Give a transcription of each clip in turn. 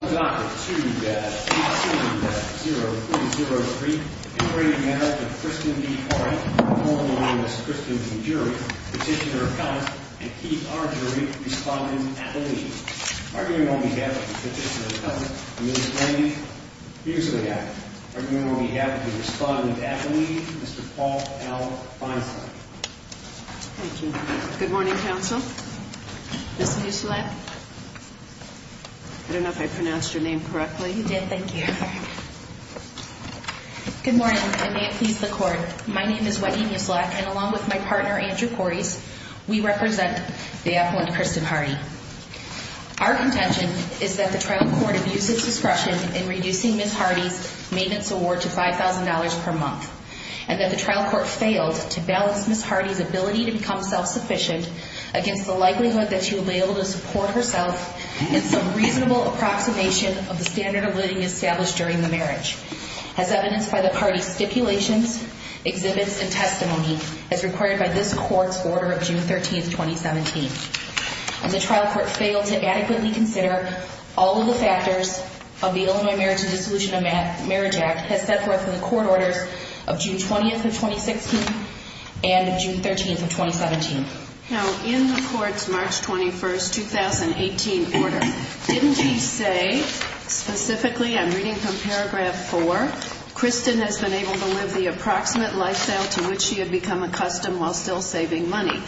Dr. 2-870-403 Integrated Marriage of Kristin B. Hardy, holding the witness, Kristin, to the jury, Petitioner, Appellant, and Keith, our jury, respondent, at the lead. Arguing on behalf of the Petitioner, Appellant, and Mr. Hardy, here's what I got. Arguing on behalf of the respondent at the lead, Mr. Paul L. Feinstein. Thank you. Good morning, counsel. Ms. Musilac? I don't know if I pronounced your name correctly. You did. Thank you. Good morning, and may it please the Court. My name is Wendy Musilac, and along with my partner, Andrew Kores, we represent the Appellant, Kristin Hardy. Our contention is that the trial court abused its discretion in reducing Ms. Hardy's maintenance award to $5,000 per month, and that the trial court failed to balance Ms. Hardy's ability to become self-sufficient against the likelihood that she would be able to support herself in some reasonable approximation of the standard of living established during the marriage, as evidenced by the party's stipulations, exhibits, and testimony, as recorded by this Court's order of June 13, 2017. And the trial court failed to adequately consider all of the factors of the Illinois Marriage and Dissolution of Marriage Act as set forth in the court orders of June 20th of 2016 and June 13th of 2017. Now, in the Court's March 21st, 2018 order, didn't he say, specifically, I'm reading from paragraph 4, Kristin has been able to live the approximate lifestyle to which she had become accustomed while still saving money?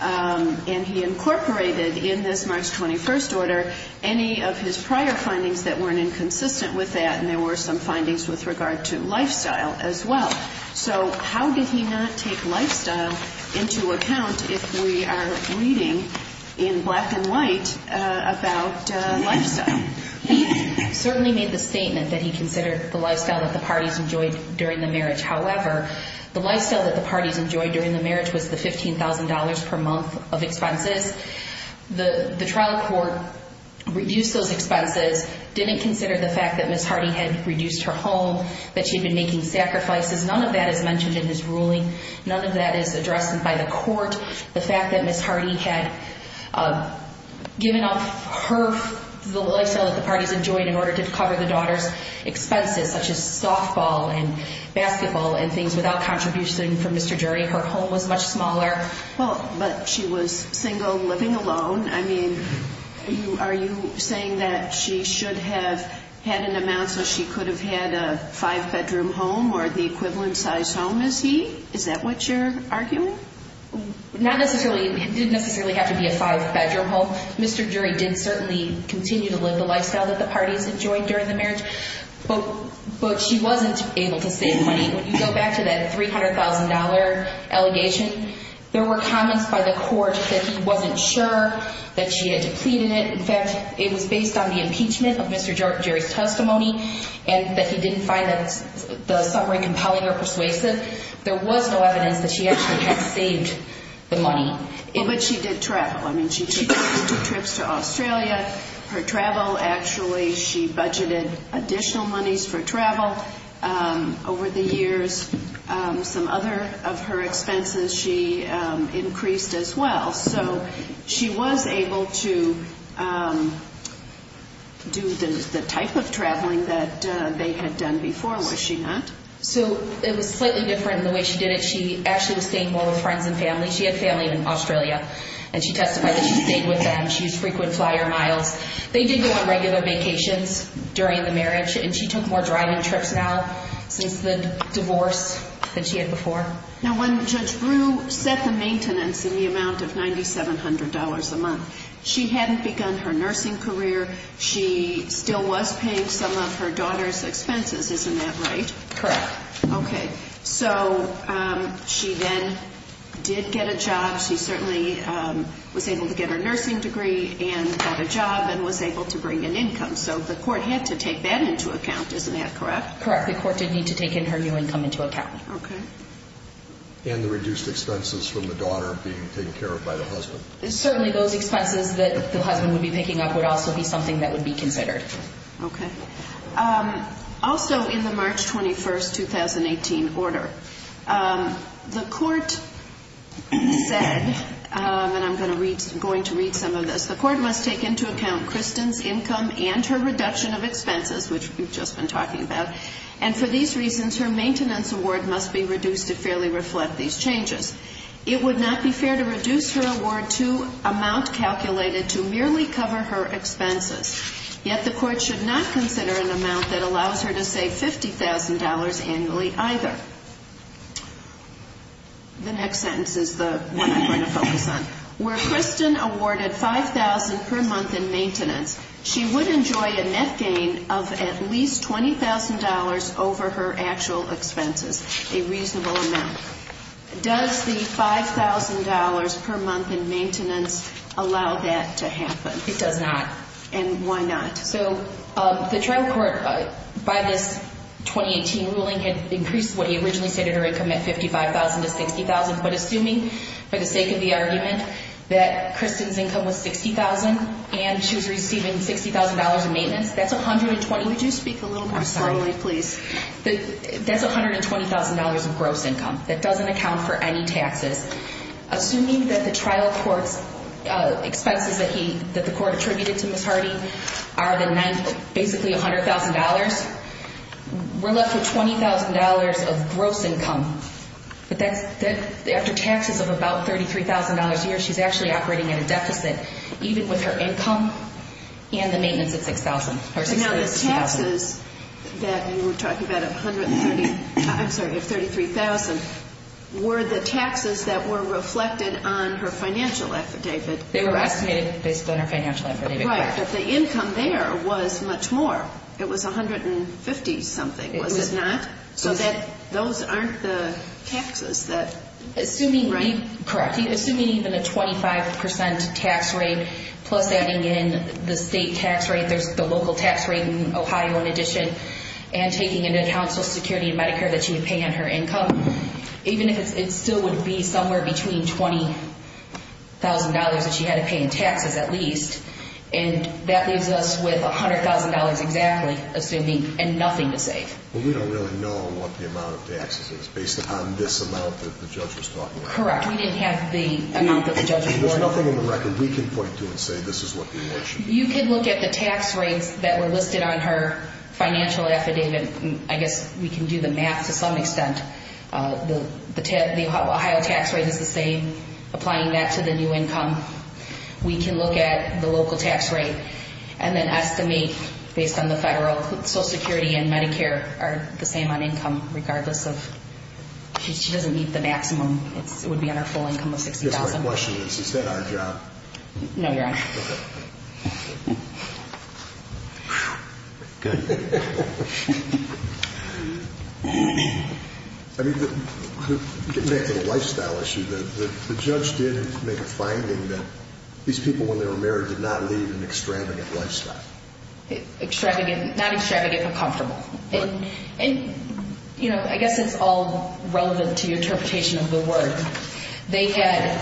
And he incorporated in this March 21st order any of his prior findings that weren't inconsistent with that, and there were some findings with regard to lifestyle as well. So how did he not take lifestyle into account if we are reading in black and white about lifestyle? He certainly made the statement that he considered the lifestyle that the parties enjoyed during the marriage. However, the lifestyle that the parties enjoyed during the marriage was the $15,000 per month of expenses. The trial court reduced those expenses, didn't consider the fact that Ms. Hardy had reduced her home, that she'd been making sacrifices. None of that is mentioned in his ruling. None of that is addressed by the court. The fact that Ms. Hardy had given up her, the lifestyle that the parties enjoyed in order to cover the daughter's expenses, such as softball and basketball and things without contribution from Mr. Jury. Her home was much smaller. Well, but she was single, living alone. I mean, are you saying that she should have had an amount so she could have had a five-bedroom home or the equivalent size home as he? Is that what you're arguing? Not necessarily. It didn't necessarily have to be a five-bedroom home. Mr. Jury did certainly continue to live the lifestyle that the parties enjoyed during the marriage, but she wasn't able to save money. When you go back to that $300,000 allegation, there were comments by the court that he wasn't sure that she had depleted it. In fact, it was based on the impeachment of Mr. Jury's testimony and that he didn't find the summary compelling or persuasive. There was no evidence that she actually had saved the money. But she did travel. I mean, she took trips to Australia. Her travel, actually, she budgeted additional monies for travel over the years. Some other of her expenses she increased as well. So she was able to do the type of traveling that they had done before, was she not? So it was slightly different in the way she did it. She actually was staying more with friends and family. She had family in Australia, and she testified that she stayed with them. She used frequent flyer miles. They did go on regular vacations during the marriage, and she took more driving trips now since the divorce than she had before. Now, when Judge Brew set the maintenance in the amount of $9,700 a month, she hadn't begun her nursing career. She still was paying some of her daughter's expenses. Isn't that right? Correct. Okay. So she then did get a job. She certainly was able to get her nursing degree and got a job and was able to bring in income. So the court had to take that into account. Isn't that correct? Correct. The court did need to take in her new income into account. Okay. And the reduced expenses from the daughter being taken care of by the husband. Certainly those expenses that the husband would be picking up would also be something that would be considered. Okay. Also in the March 21, 2018 order, the court said, and I'm going to read some of this, the court must take into account Kristen's income and her reduction of expenses, which we've just been talking about, and for these reasons her maintenance award must be reduced to fairly reflect these changes. It would not be fair to reduce her award to amount calculated to merely cover her expenses. Yet the court should not consider an amount that allows her to save $50,000 annually either. The next sentence is the one I'm going to focus on. Where Kristen awarded $5,000 per month in maintenance, she would enjoy a net gain of at least $20,000 over her actual expenses, a reasonable amount. Does the $5,000 per month in maintenance allow that to happen? It does not. And why not? So the trial court, by this 2018 ruling, had increased what he originally stated her income at $55,000 to $60,000, but assuming for the sake of the argument that Kristen's income was $60,000 and she was receiving $60,000 in maintenance, that's $120,000. Would you speak a little more slowly, please? That's $120,000 of gross income. That doesn't account for any taxes. Assuming that the trial court's expenses that the court attributed to Ms. Hardy are basically $100,000, we're left with $20,000 of gross income. After taxes of about $33,000 a year, she's actually operating at a deficit, even with her income and the maintenance of $60,000. Now the taxes that you were talking about of $33,000 were the taxes that were reflected on her financial affidavit. They were estimated based on her financial affidavit. Right, but the income there was much more. It was $150,000-something, was it not? So those aren't the taxes. Correct. Assuming even a 25% tax rate plus adding in the state tax rate, there's the local tax rate in Ohio in addition, and taking into account Social Security and Medicare that she would pay on her income, even if it still would be somewhere between $20,000 that she had to pay in taxes at least, and that leaves us with $100,000 exactly, assuming, and nothing to save. Well, we don't really know what the amount of taxes is based upon this amount that the judge was talking about. Correct. We didn't have the amount that the judge was talking about. There's nothing in the record we can point to and say this is what the award should be. You could look at the tax rates that were listed on her financial affidavit. I guess we can do the math to some extent. The Ohio tax rate is the same, applying that to the new income. We can look at the local tax rate and then estimate based on the federal Social Security and Medicare are the same on income, regardless of if she doesn't meet the maximum, it would be on her full income of $60,000. I guess my question is, is that our job? No, Your Honor. Okay. Good. I mean, getting back to the lifestyle issue, the judge did make a finding that these people, when they were married, did not lead an extravagant lifestyle. Not extravagant, but comfortable. And, you know, I guess it's all relevant to your interpretation of the word. They had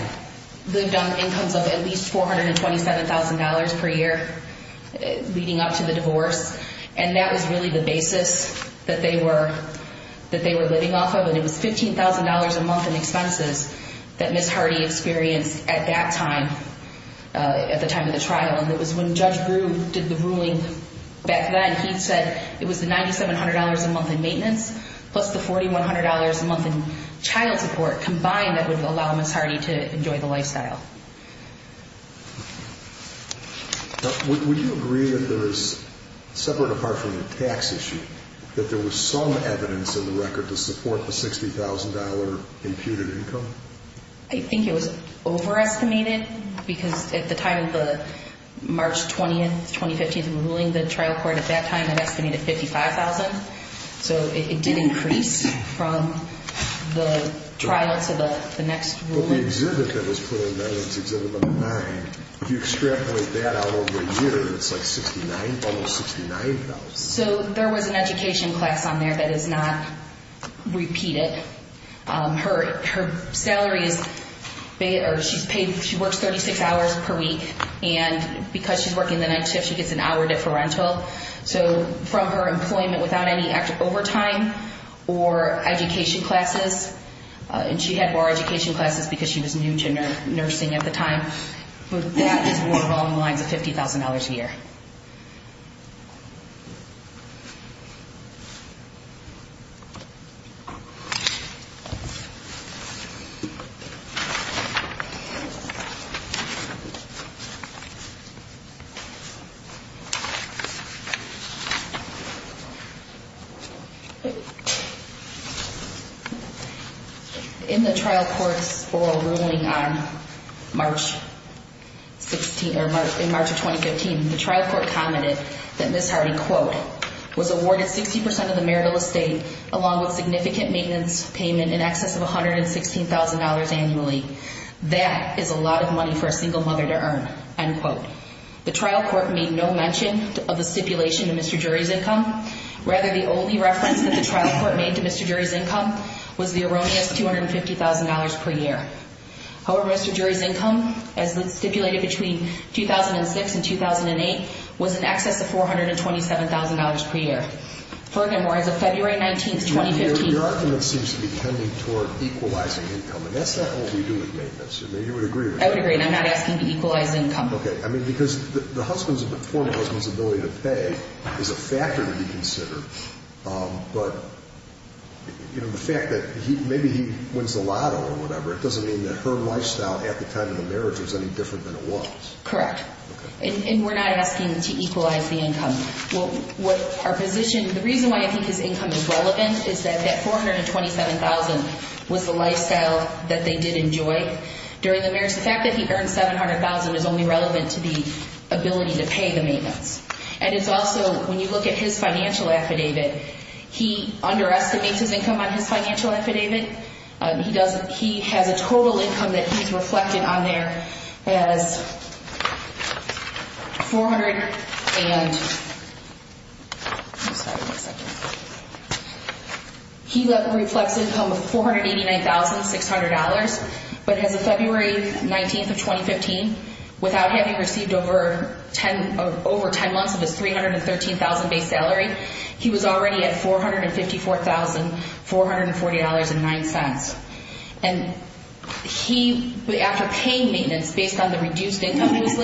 lived on incomes of at least $427,000 per year leading up to the divorce. And that was really the basis that they were living off of. And it was $15,000 a month in expenses that Ms. Hardy experienced at that time, at the time of the trial. And it was when Judge Brew did the ruling back then, he said it was the $9,700 a month in maintenance plus the $4,100 a month in child support combined that would allow Ms. Hardy to enjoy the lifestyle. Would you agree that there is, separate apart from the tax issue, that there was some evidence in the record to support the $60,000 imputed income? I think it was overestimated because at the time of the March 20th, 2015th ruling, the trial court at that time had estimated $55,000. So it did increase from the trial to the next ruling. But the exhibit that was put in there, it's exhibit number nine, if you extrapolate that out over a year, it's like $69,000, almost $69,000. So there was an education class on there that is not repeated. Her salary is paid, or she works 36 hours per week. And because she's working the night shift, she gets an hour differential. So from her employment without any overtime or education classes, and she had more education classes because she was new to nursing at the time. But that is more along the lines of $50,000 a year. In the trial court's oral ruling in March of 2015, the trial court commented that Ms. Hardy, quote, was awarded 60% of the marital estate along with significant maintenance payment in excess of $116,000 annually. That is a lot of money for a single mother to earn, end quote. The trial court made no mention of the stipulation of Mr. Jury's income. Rather, the only reference that the trial court made to Mr. Jury's income was the erroneous $250,000 per year. However, Mr. Jury's income, as stipulated between 2006 and 2008, was in excess of $427,000 per year. Furthermore, as of February 19, 2015 – Your argument seems to be tending toward equalizing income, and that's not what we do with maintenance. I mean, you would agree with that. I would agree, and I'm not asking to equalize income. Okay, I mean, because the former husband's ability to pay is a factor to be considered. But, you know, the fact that maybe he wins the lotto or whatever, it doesn't mean that her lifestyle at the time of the marriage was any different than it was. Correct. And we're not asking to equalize the income. The reason why I think his income is relevant is that that $427,000 was the lifestyle that they did enjoy during the marriage. The fact that he earned $700,000 is only relevant to the ability to pay the maintenance. And it's also, when you look at his financial affidavit, he underestimates his income on his financial affidavit. He has a total income that he's reflected on there as $489,600. But as of February 19th of 2015, without having received over 10 months of his $313,000 base salary, he was already at $454,440.09. And he, after paying maintenance based on the reduced income he was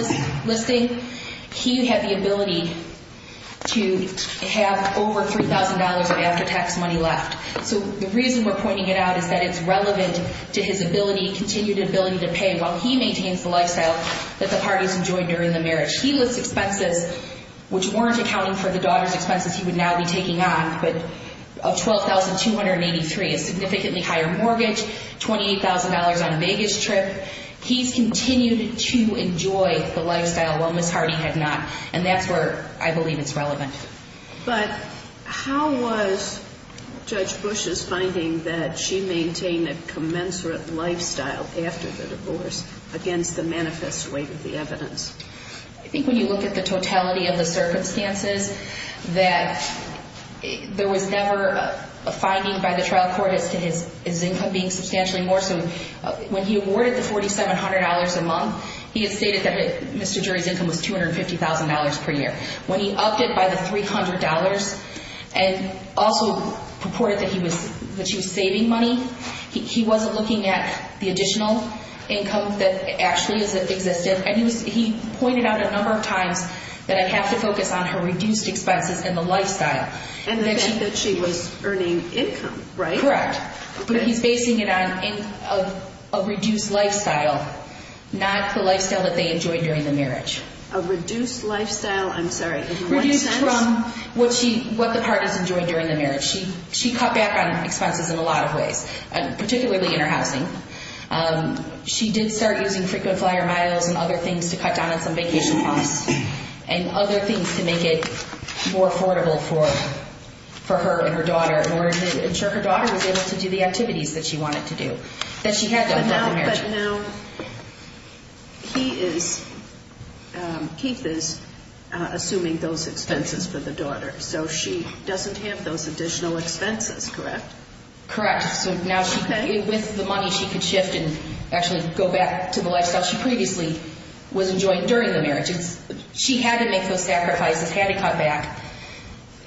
listing, he had the ability to have over $3,000 of after-tax money left. So the reason we're pointing it out is that it's relevant to his continued ability to pay while he maintains the lifestyle that the parties enjoyed during the marriage. He lists expenses which weren't accounting for the daughter's expenses he would now be taking on, but of $12,283, a significantly higher mortgage, $28,000 on a baggage trip. He's continued to enjoy the lifestyle while Ms. Hardy had not. And that's where I believe it's relevant. But how was Judge Bush's finding that she maintained a commensurate lifestyle after the divorce against the manifest weight of the evidence? I think when you look at the totality of the circumstances, that there was never a finding by the trial court as to his income being substantially more. So when he awarded the $4,700 a month, he had stated that Mr. Jury's income was $250,000 per year. When he upped it by the $300 and also purported that she was saving money, he wasn't looking at the additional income that actually existed. And he pointed out a number of times that I have to focus on her reduced expenses and the lifestyle. And the fact that she was earning income, right? Correct. But he's basing it on a reduced lifestyle, not the lifestyle that they enjoyed during the marriage. A reduced lifestyle? I'm sorry, in what sense? Reduced from what the parties enjoyed during the marriage. She cut back on expenses in a lot of ways, particularly in her housing. She did start using frequent flyer miles and other things to cut down on some vacation costs and other things to make it more affordable for her and her daughter in order to ensure her daughter was able to do the activities that she wanted to do, that she had done throughout the marriage. But now he is, Keith is, assuming those expenses for the daughter. So she doesn't have those additional expenses, correct? Correct. So now with the money she could shift and actually go back to the lifestyle she previously was enjoying during the marriage. She had to make those sacrifices, had to cut back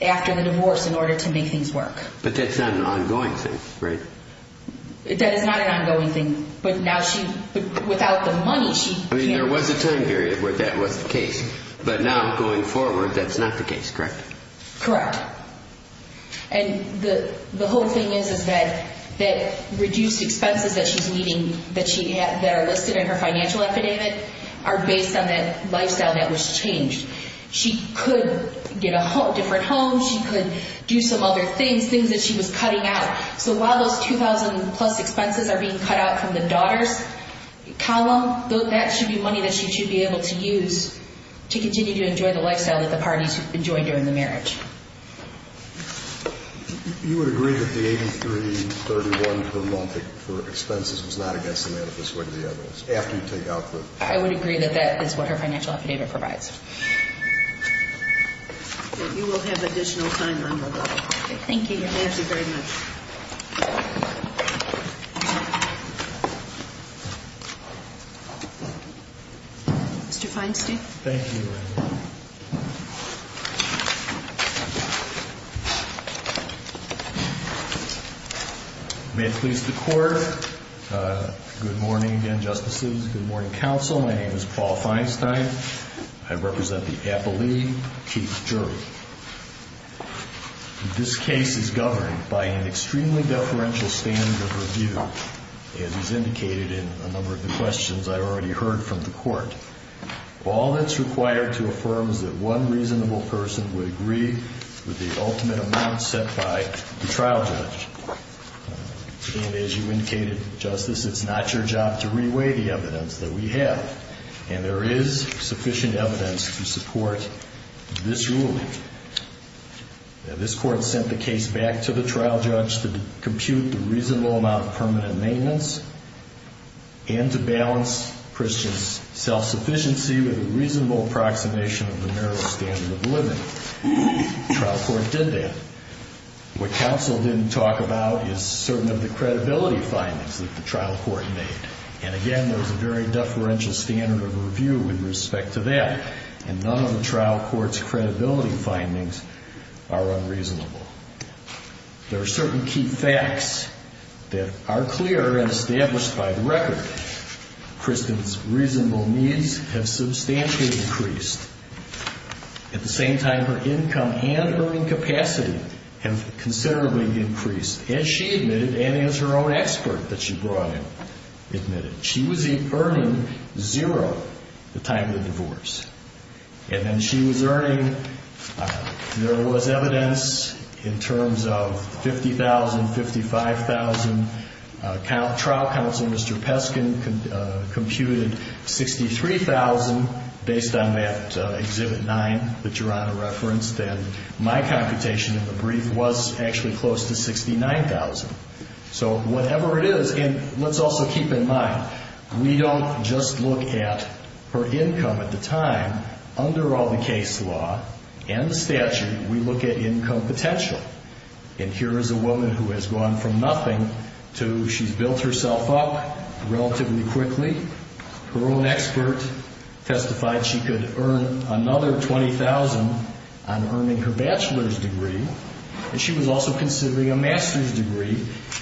after the divorce in order to make things work. But that's not an ongoing thing, right? That is not an ongoing thing, but now she, without the money she can't. I mean there was a time period where that was the case, but now going forward that's not the case, correct? Correct. And the whole thing is that reduced expenses that she's needing, that are listed in her financial epidemic, are based on that lifestyle that was changed. She could get a different home, she could do some other things, things that she was cutting out. So while those $2,000 plus expenses are being cut out from the daughter's column, that should be money that she should be able to use to continue to enjoy the lifestyle that the parties enjoyed during the marriage. You would agree that the $83.31 per month for expenses was not against the manifesto of the evidence, after you take out the... I would agree that that is what her financial affidavit provides. You will have additional time on that. Thank you again. Thank you very much. Mr. Feinstein. Thank you. May it please the Court. Good morning again, Justices. Good morning, Counsel. My name is Paul Feinstein. I represent the Appellee Chief Jury. This case is governed by an extremely deferential standard of review, as is indicated in a number of the questions I already heard from the Court. All that's required to affirm is that one reasonable person would agree with the ultimate amount set by the trial judge. And as you indicated, Justice, it's not your job to reweigh the evidence that we have. And there is sufficient evidence to support this ruling. This Court sent the case back to the trial judge to compute the reasonable amount of permanent maintenance and to balance Christian's self-sufficiency with a reasonable approximation of the marital standard of living. The trial court did that. What Counsel didn't talk about is certain of the credibility findings that the trial court made. And again, there's a very deferential standard of review with respect to that. And none of the trial court's credibility findings are unreasonable. There are certain key facts that are clear and established by the record. Christian's reasonable needs have substantially increased. At the same time, her income and earning capacity have considerably increased, as she admitted and as her own expert that she brought in admitted. She was earning zero the time of the divorce. And then she was earning, there was evidence in terms of 50,000, 55,000. Trial Counsel, Mr. Peskin, computed 63,000 based on that Exhibit 9 that your Honor referenced. And my computation in the brief was actually close to 69,000. So whatever it is, and let's also keep in mind, we don't just look at her income at the time. Under all the case law and the statute, we look at income potential. And here is a woman who has gone from nothing to she's built herself up relatively quickly. Her own expert testified she could earn another 20,000 on earning her bachelor's degree. And she was also considering a master's degree.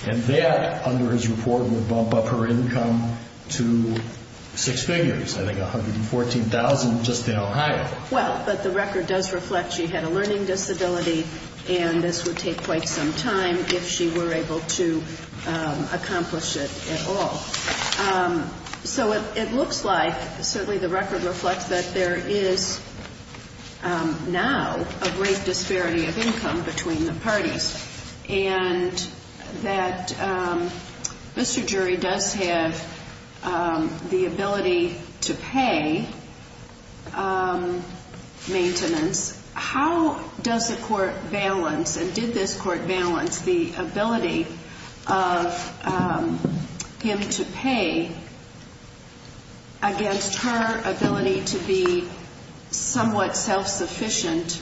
And that, under his report, would bump up her income to six figures, I think 114,000 just in Ohio. Well, but the record does reflect she had a learning disability, and this would take quite some time if she were able to accomplish it at all. So it looks like, certainly the record reflects that there is now a great disparity of income between the parties. And that Mr. Jury does have the ability to pay maintenance. How does the court balance, and did this court balance the ability of him to pay against her ability to be somewhat self-sufficient?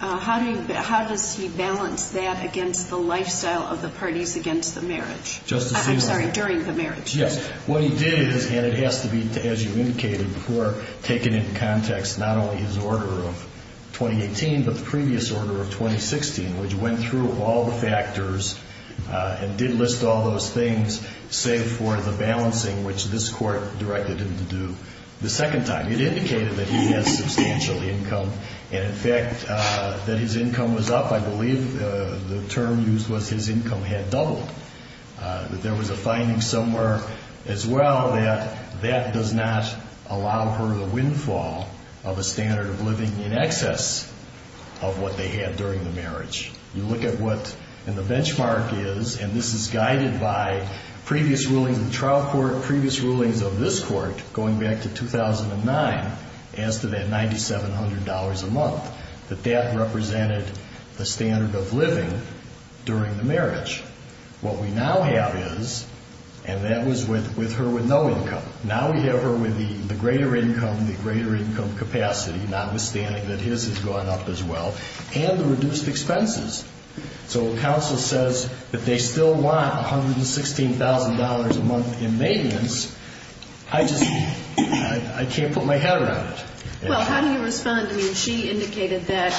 How does he balance that against the lifestyle of the parties against the marriage? I'm sorry, during the marriage. Yes, what he did is, and it has to be, as you indicated, before taking into context not only his order of 2018, but the previous order of 2016, which went through all the factors and did list all those things, save for the balancing, which this court directed him to do the second time. It indicated that he had substantial income, and, in fact, that his income was up. I believe the term used was his income had doubled. There was a finding somewhere as well that that does not allow her the windfall of a standard of living in excess of what they had during the marriage. You look at what in the benchmark is, and this is guided by previous rulings in the trial court, previous rulings of this court going back to 2009 as to that $9,700 a month, that that represented the standard of living during the marriage. What we now have is, and that was with her with no income, now we have her with the greater income, the greater income capacity, notwithstanding that his has gone up as well, and the reduced expenses. So counsel says that they still want $116,000 a month in maintenance. I just can't put my head around it. Well, how do you respond? I mean, she indicated that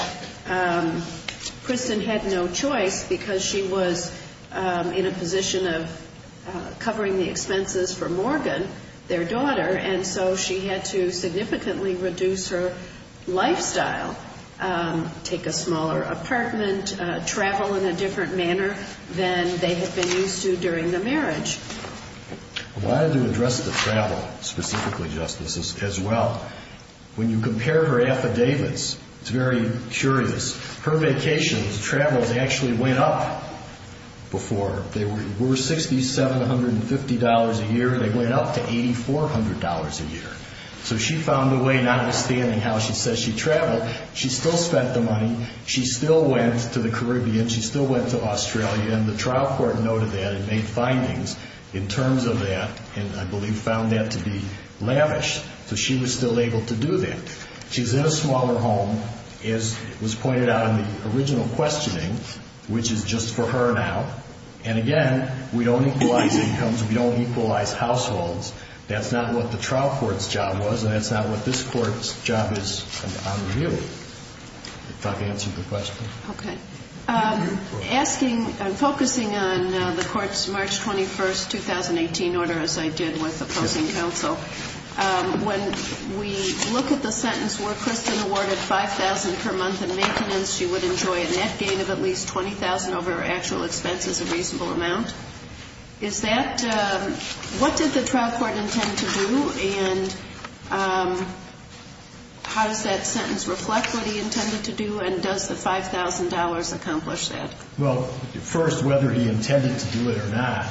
Kristen had no choice because she was in a position of covering the expenses for Morgan, their daughter, and so she had to significantly reduce her lifestyle, take a smaller apartment, travel in a different manner than they had been used to during the marriage. I wanted to address the travel specifically, Justice, as well. When you compare her affidavits, it's very curious. Her vacations, travels, actually went up before. They were $6,750 a year, and they went up to $8,400 a year. So she found a way, notwithstanding how she says she traveled, she still spent the money, she still went to the Caribbean, she still went to Australia, and the trial court noted that and made findings in terms of that and, I believe, found that to be lavish. So she was still able to do that. She's in a smaller home, as was pointed out in the original questioning, which is just for her now, and again, we don't equalize incomes, we don't equalize households. That's not what the trial court's job was, and that's not what this court's job is on review. If I've answered the question. Okay. Asking and focusing on the court's March 21, 2018 order, as I did with opposing counsel, when we look at the sentence, were Kristen awarded $5,000 per month in maintenance, she would enjoy a net gain of at least $20,000 over her actual expenses, a reasonable amount. Is that, what did the trial court intend to do, and how does that sentence reflect what he intended to do, and does the $5,000 accomplish that? Well, first, whether he intended to do it or not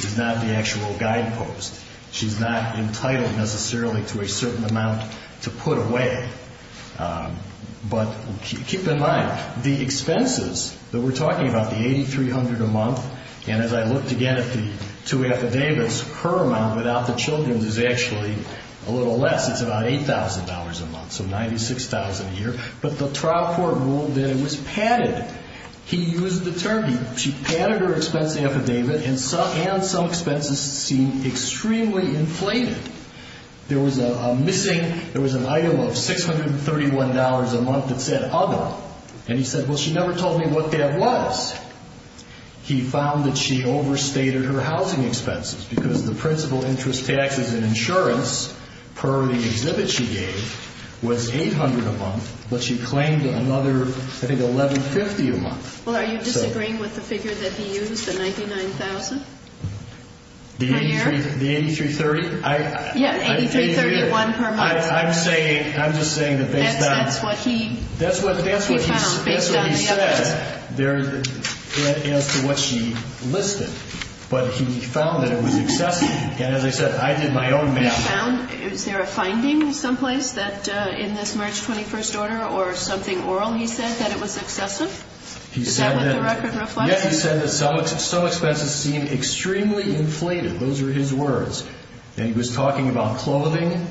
is not the actual guidepost. She's not entitled necessarily to a certain amount to put away, but keep in mind, the expenses that we're talking about, the $8,300 a month, and as I looked again at the two affidavits, her amount without the children's is actually a little less. It's about $8,000 a month, so $96,000 a year, but the trial court ruled that it was padded. He used the term, she padded her expense affidavit, and some expenses seemed extremely inflated. There was a missing, there was an item of $631 a month that said other, and he said, well, she never told me what that was. He found that she overstated her housing expenses, because the principal interest taxes and insurance per the exhibit she gave was $800 a month, but she claimed another, I think, $1,150 a month. Well, are you disagreeing with the figure that he used, the $99,000 per year? The $8,330? Yeah, $8,331 per month. I'm saying, I'm just saying that that's not. That's what he found, based on the evidence. As to what she listed, but he found that it was excessive, and as I said, I did my own math. He found, is there a finding someplace that in this March 21st order or something oral he said that it was excessive? Is that what the record reflects? Yes, he said that some expenses seemed extremely inflated. Those are his words, and he was talking about clothing,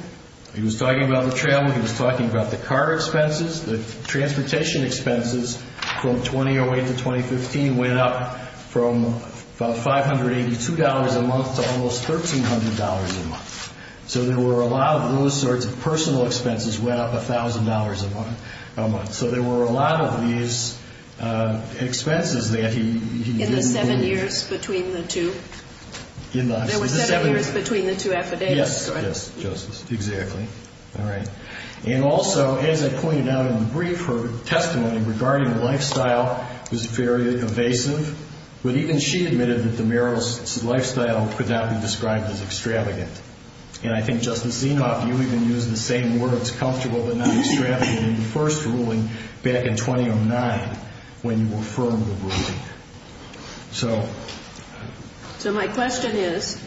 he was talking about the travel, he was talking about the car expenses, the transportation expenses from 2008 to 2015 went up from about $582 a month to almost $1,300 a month. So there were a lot of those sorts of personal expenses went up $1,000 a month. So there were a lot of these expenses that he didn't believe. In the seven years between the two? In the seven years. There were seven years between the two affidavits? Yes. Yes, Justice. Exactly. All right. And also, as I pointed out in the brief, her testimony regarding the lifestyle was very evasive, but even she admitted that the mayoralist's lifestyle could not be described as extravagant. And I think, Justice Zinoff, you even used the same words, comfortable but not extravagant, in your first ruling back in 2009 when you affirmed the ruling. So my question is,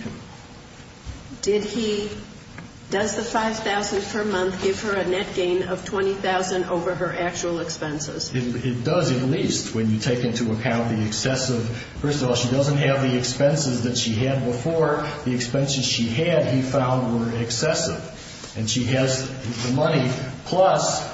does the $5,000 per month give her a net gain of $20,000 over her actual expenses? It does, at least, when you take into account the excessive. First of all, she doesn't have the expenses that she had before. The expenses she had, he found, were excessive. And she has the money, plus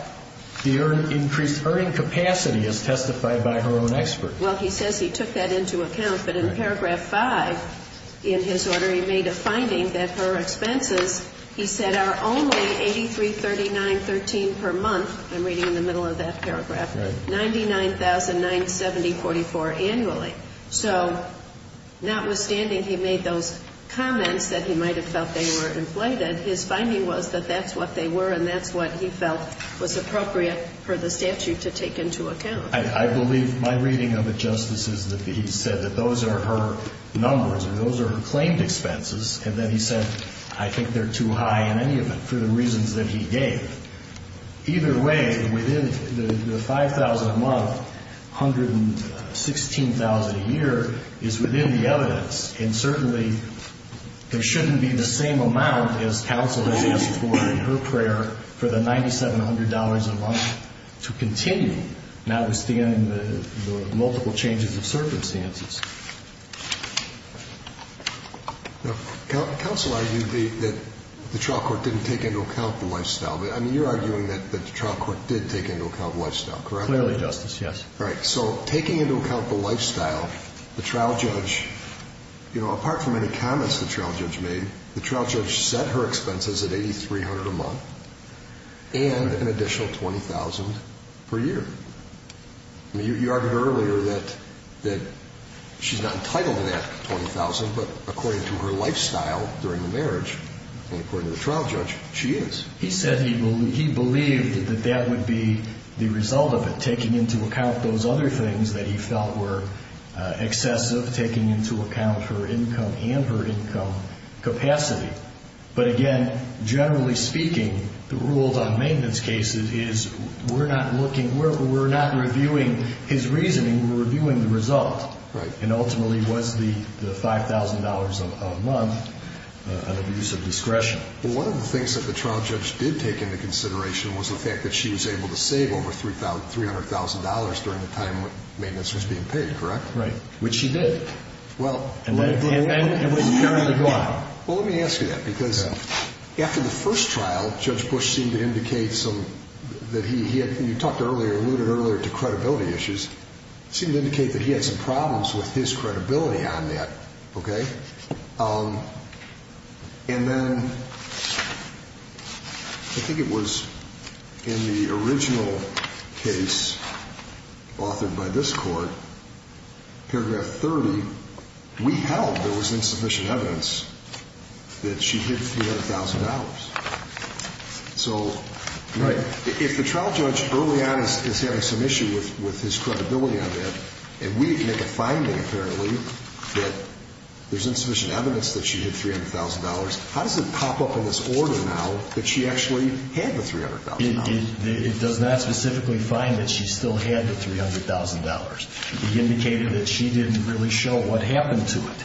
the increased earning capacity, as testified by her own expert. Well, he says he took that into account. But in Paragraph 5 in his order, he made a finding that her expenses, he said, are only $83,39.13 per month. I'm reading in the middle of that paragraph. $99,970.44 annually. So notwithstanding he made those comments that he might have felt they were inflated, his finding was that that's what they were and that's what he felt was appropriate for the statute to take into account. I believe my reading of it, Justice, is that he said that those are her numbers or those are her claimed expenses. And then he said, I think they're too high in any of it for the reasons that he gave. Either way, within the $5,000 a month, $116,000 a year is within the evidence. And certainly there shouldn't be the same amount, as counsel has asked for in her prayer, for the $9,700 a month to continue, notwithstanding the multiple changes of circumstances. Now, counsel argued that the trial court didn't take into account the lifestyle. I mean, you're arguing that the trial court did take into account the lifestyle, correct? Clearly, Justice, yes. All right. So taking into account the lifestyle, the trial judge, you know, apart from any comments the trial judge made, the trial judge set her expenses at $8,300 a month and an additional $20,000 per year. I mean, you argued earlier that she's not entitled to that $20,000, but according to her lifestyle during the marriage and according to the trial judge, she is. He said he believed that that would be the result of it, taking into account those other things that he felt were excessive, taking into account her income and her income capacity. But again, generally speaking, the rules on maintenance cases is we're not looking, we're not reviewing his reasoning, we're reviewing the result. Right. And ultimately, was the $5,000 a month an abuse of discretion? Well, one of the things that the trial judge did take into consideration was the fact that she was able to save over $300,000 during the time maintenance was being paid, correct? Right. Which she did. Well. And it was during the trial. Well, let me ask you that because after the first trial, Judge Bush seemed to indicate some, that he had, you talked earlier, alluded earlier to credibility issues, seemed to indicate that he had some problems with his credibility on that, okay? And then I think it was in the original case authored by this court, paragraph 30, we held there was insufficient evidence that she hid $300,000. Right. So if the trial judge early on is having some issue with his credibility on that, and we make a finding apparently that there's insufficient evidence that she hid $300,000, how does it pop up in this order now that she actually had the $300,000? It does not specifically find that she still had the $300,000. It indicated that she didn't really show what happened to it.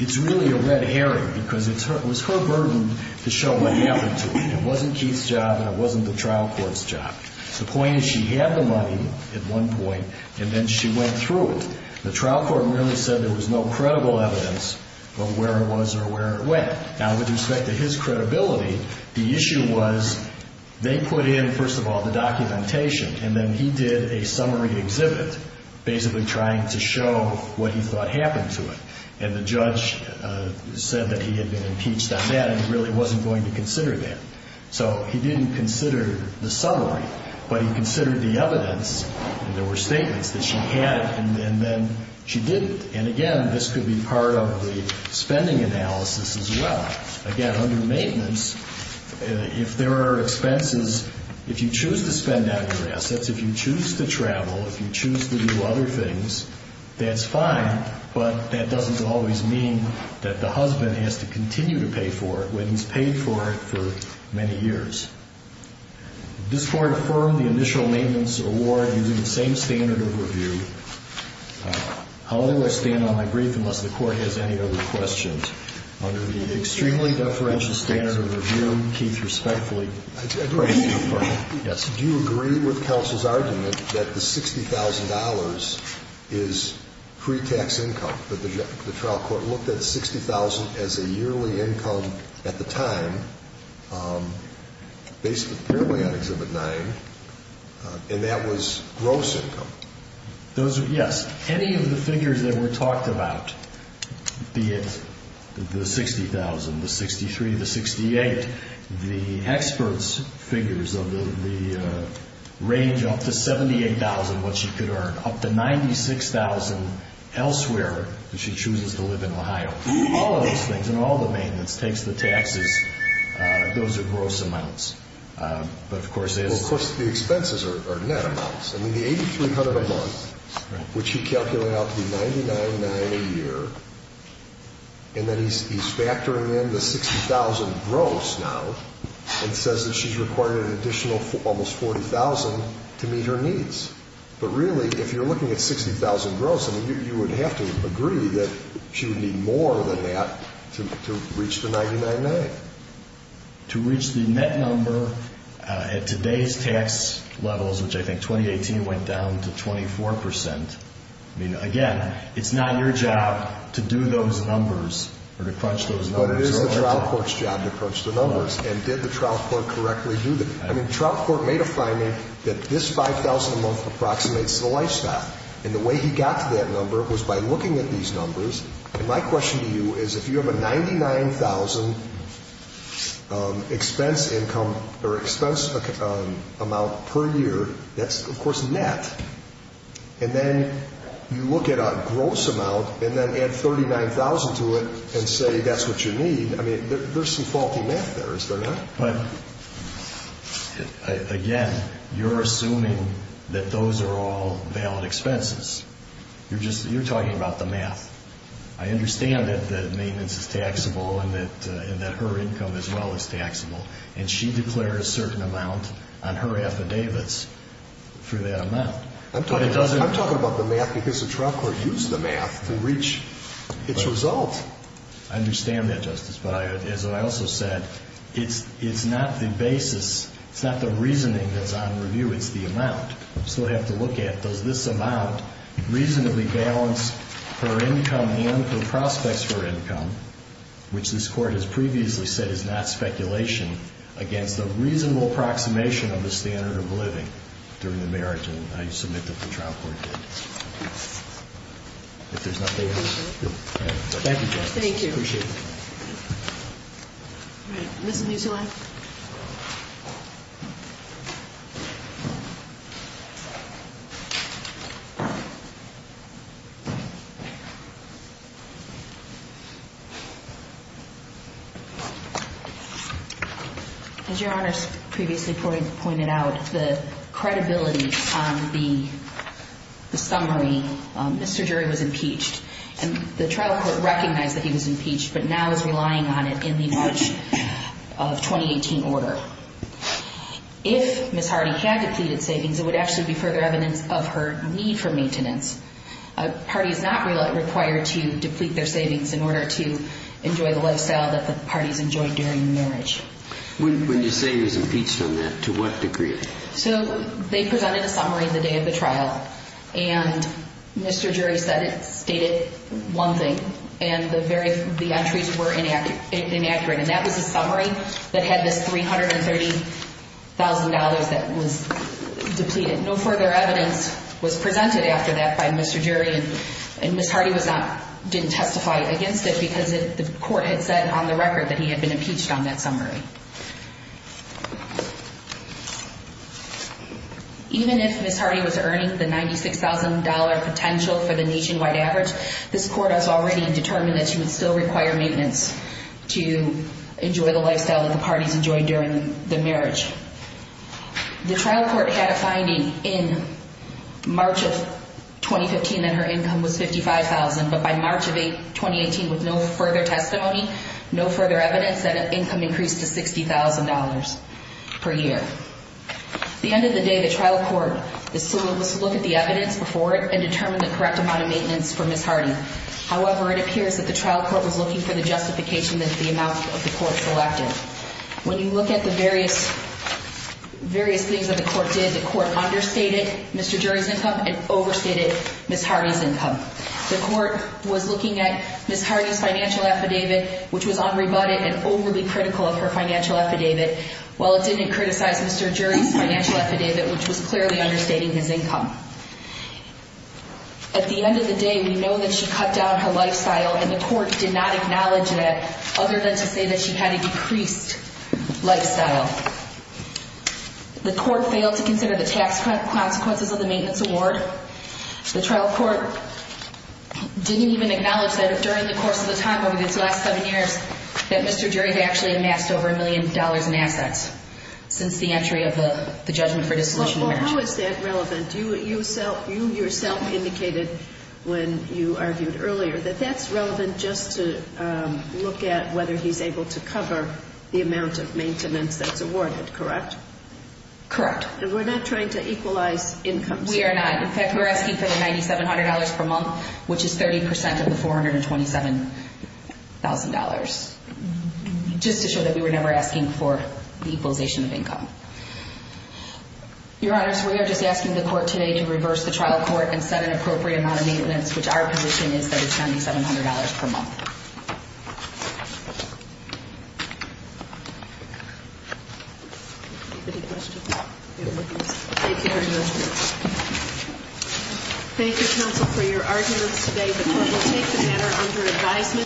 It's really a red herring because it was her burden to show what happened to it. It wasn't Keith's job and it wasn't the trial court's job. The point is she had the money at one point and then she went through it. The trial court merely said there was no credible evidence of where it was or where it went. Now, with respect to his credibility, the issue was they put in, first of all, the documentation, and then he did a summary exhibit basically trying to show what he thought happened to it. And the judge said that he had been impeached on that and really wasn't going to consider that. So he didn't consider the summary, but he considered the evidence. There were statements that she had and then she didn't. And, again, this could be part of the spending analysis as well. Again, under maintenance, if there are expenses, if you choose to spend out of your assets, if you choose to travel, if you choose to do other things, that's fine, but that doesn't always mean that the husband has to continue to pay for it and he's paid for it for many years. This Court affirmed the initial maintenance award using the same standard of review. However, I stand on my brief unless the Court has any other questions. Under the extremely deferential standard of review, Keith respectfully. Yes. Do you agree with counsel's argument that the $60,000 is pre-tax income, that the trial court looked at $60,000 as a yearly income at the time, based primarily on Exhibit 9, and that was gross income? Yes. Any of the figures that were talked about, be it the $60,000, the $63,000, the $68,000, the experts' figures of the range up to $78,000 what she could earn, up to $96,000 elsewhere that she chooses to live in Ohio. All of those things and all the maintenance takes the taxes. Those are gross amounts. Of course, the expenses are net amounts. The $8,300 a month, which he calculated out to be $99.99 a year, and then he's factoring in the $60,000 gross now and says that she's required an additional almost $40,000 to meet her needs. But really, if you're looking at $60,000 gross, you would have to agree that she would need more than that to reach the $99.99. To reach the net number at today's tax levels, which I think 2018 went down to 24%, again, it's not your job to do those numbers or to crunch those numbers. But it is the trial court's job to crunch the numbers. And did the trial court correctly do that? I mean, the trial court made a finding that this $5,000 a month approximates the lifestyle. And the way he got to that number was by looking at these numbers. And my question to you is if you have a $99,000 expense income or expense amount per year, that's, of course, net. And then you look at a gross amount and then add $39,000 to it and say that's what you need. I mean, there's some faulty math there, is there not? But, again, you're assuming that those are all valid expenses. You're talking about the math. I understand that maintenance is taxable and that her income as well is taxable. And she declares a certain amount on her affidavits for that amount. I'm talking about the math because the trial court used the math to reach its result. I understand that, Justice. But as I also said, it's not the basis, it's not the reasoning that's on review. It's the amount. So we have to look at does this amount reasonably balance her income and her prospects for income, which this Court has previously said is not speculation, against a reasonable approximation of the standard of living during the marriage. And I submit that the trial court did. If there's nothing else. Thank you, Justice. Thank you. I appreciate it. All right. Ms. Musilam? As Your Honors previously pointed out, the credibility on the summary, Mr. Jury was impeached. And the trial court recognized that he was impeached but now is relying on it in the March of 2018 order. If Ms. Hardy had depleted savings, it would actually be further evidence of her need for maintenance. A party is not required to deplete their savings in order to enjoy the lifestyle that the parties enjoy during marriage. When you say he was impeached on that, to what degree? So they presented a summary the day of the trial. And Mr. Jury said it stated one thing. And the entries were inaccurate. And that was a summary that had this $330,000 that was depleted. No further evidence was presented after that by Mr. Jury. And Ms. Hardy didn't testify against it because the court had said on the record that he had been impeached on that summary. Even if Ms. Hardy was earning the $96,000 potential for the nationwide average, this court has already determined that she would still require maintenance to enjoy the lifestyle that the parties enjoy during the marriage. The trial court had a finding in March of 2015 that her income was $55,000. But by March of 2018, with no further testimony, no further evidence, that her income increased to $60,000 per year. At the end of the day, the trial court was to look at the evidence before it and determine the correct amount of maintenance for Ms. Hardy. However, it appears that the trial court was looking for the justification that the amount of the court selected. When you look at the various things that the court did, the court understated Mr. Jury's income and overstated Ms. Hardy's income. The court was looking at Ms. Hardy's financial affidavit, which was unrebutted and overly critical of her financial affidavit, while it didn't criticize Mr. Jury's financial affidavit, which was clearly understating his income. At the end of the day, we know that she cut down her lifestyle and the court did not acknowledge that, other than to say that she had a decreased lifestyle. The court failed to consider the tax consequences of the maintenance award. The trial court didn't even acknowledge that during the course of the time, over these last seven years, that Mr. Jury had actually amassed over a million dollars in assets since the entry of the judgment for dissolution of marriage. Well, how is that relevant? You yourself indicated when you argued earlier that that's relevant just to look at whether he's able to cover the amount of maintenance that's awarded, correct? Correct. And we're not trying to equalize incomes here? We are not. In fact, we're asking for the $9,700 per month, which is 30% of the $427,000, just to show that we were never asking for the equalization of income. Your Honors, we are just asking the court today to reverse the trial court and set an appropriate amount of maintenance, which our position is that it's $9,700 per month. Any questions? Thank you, Your Honors. Thank you, counsel, for your arguments today. The court will take the matter under advisement.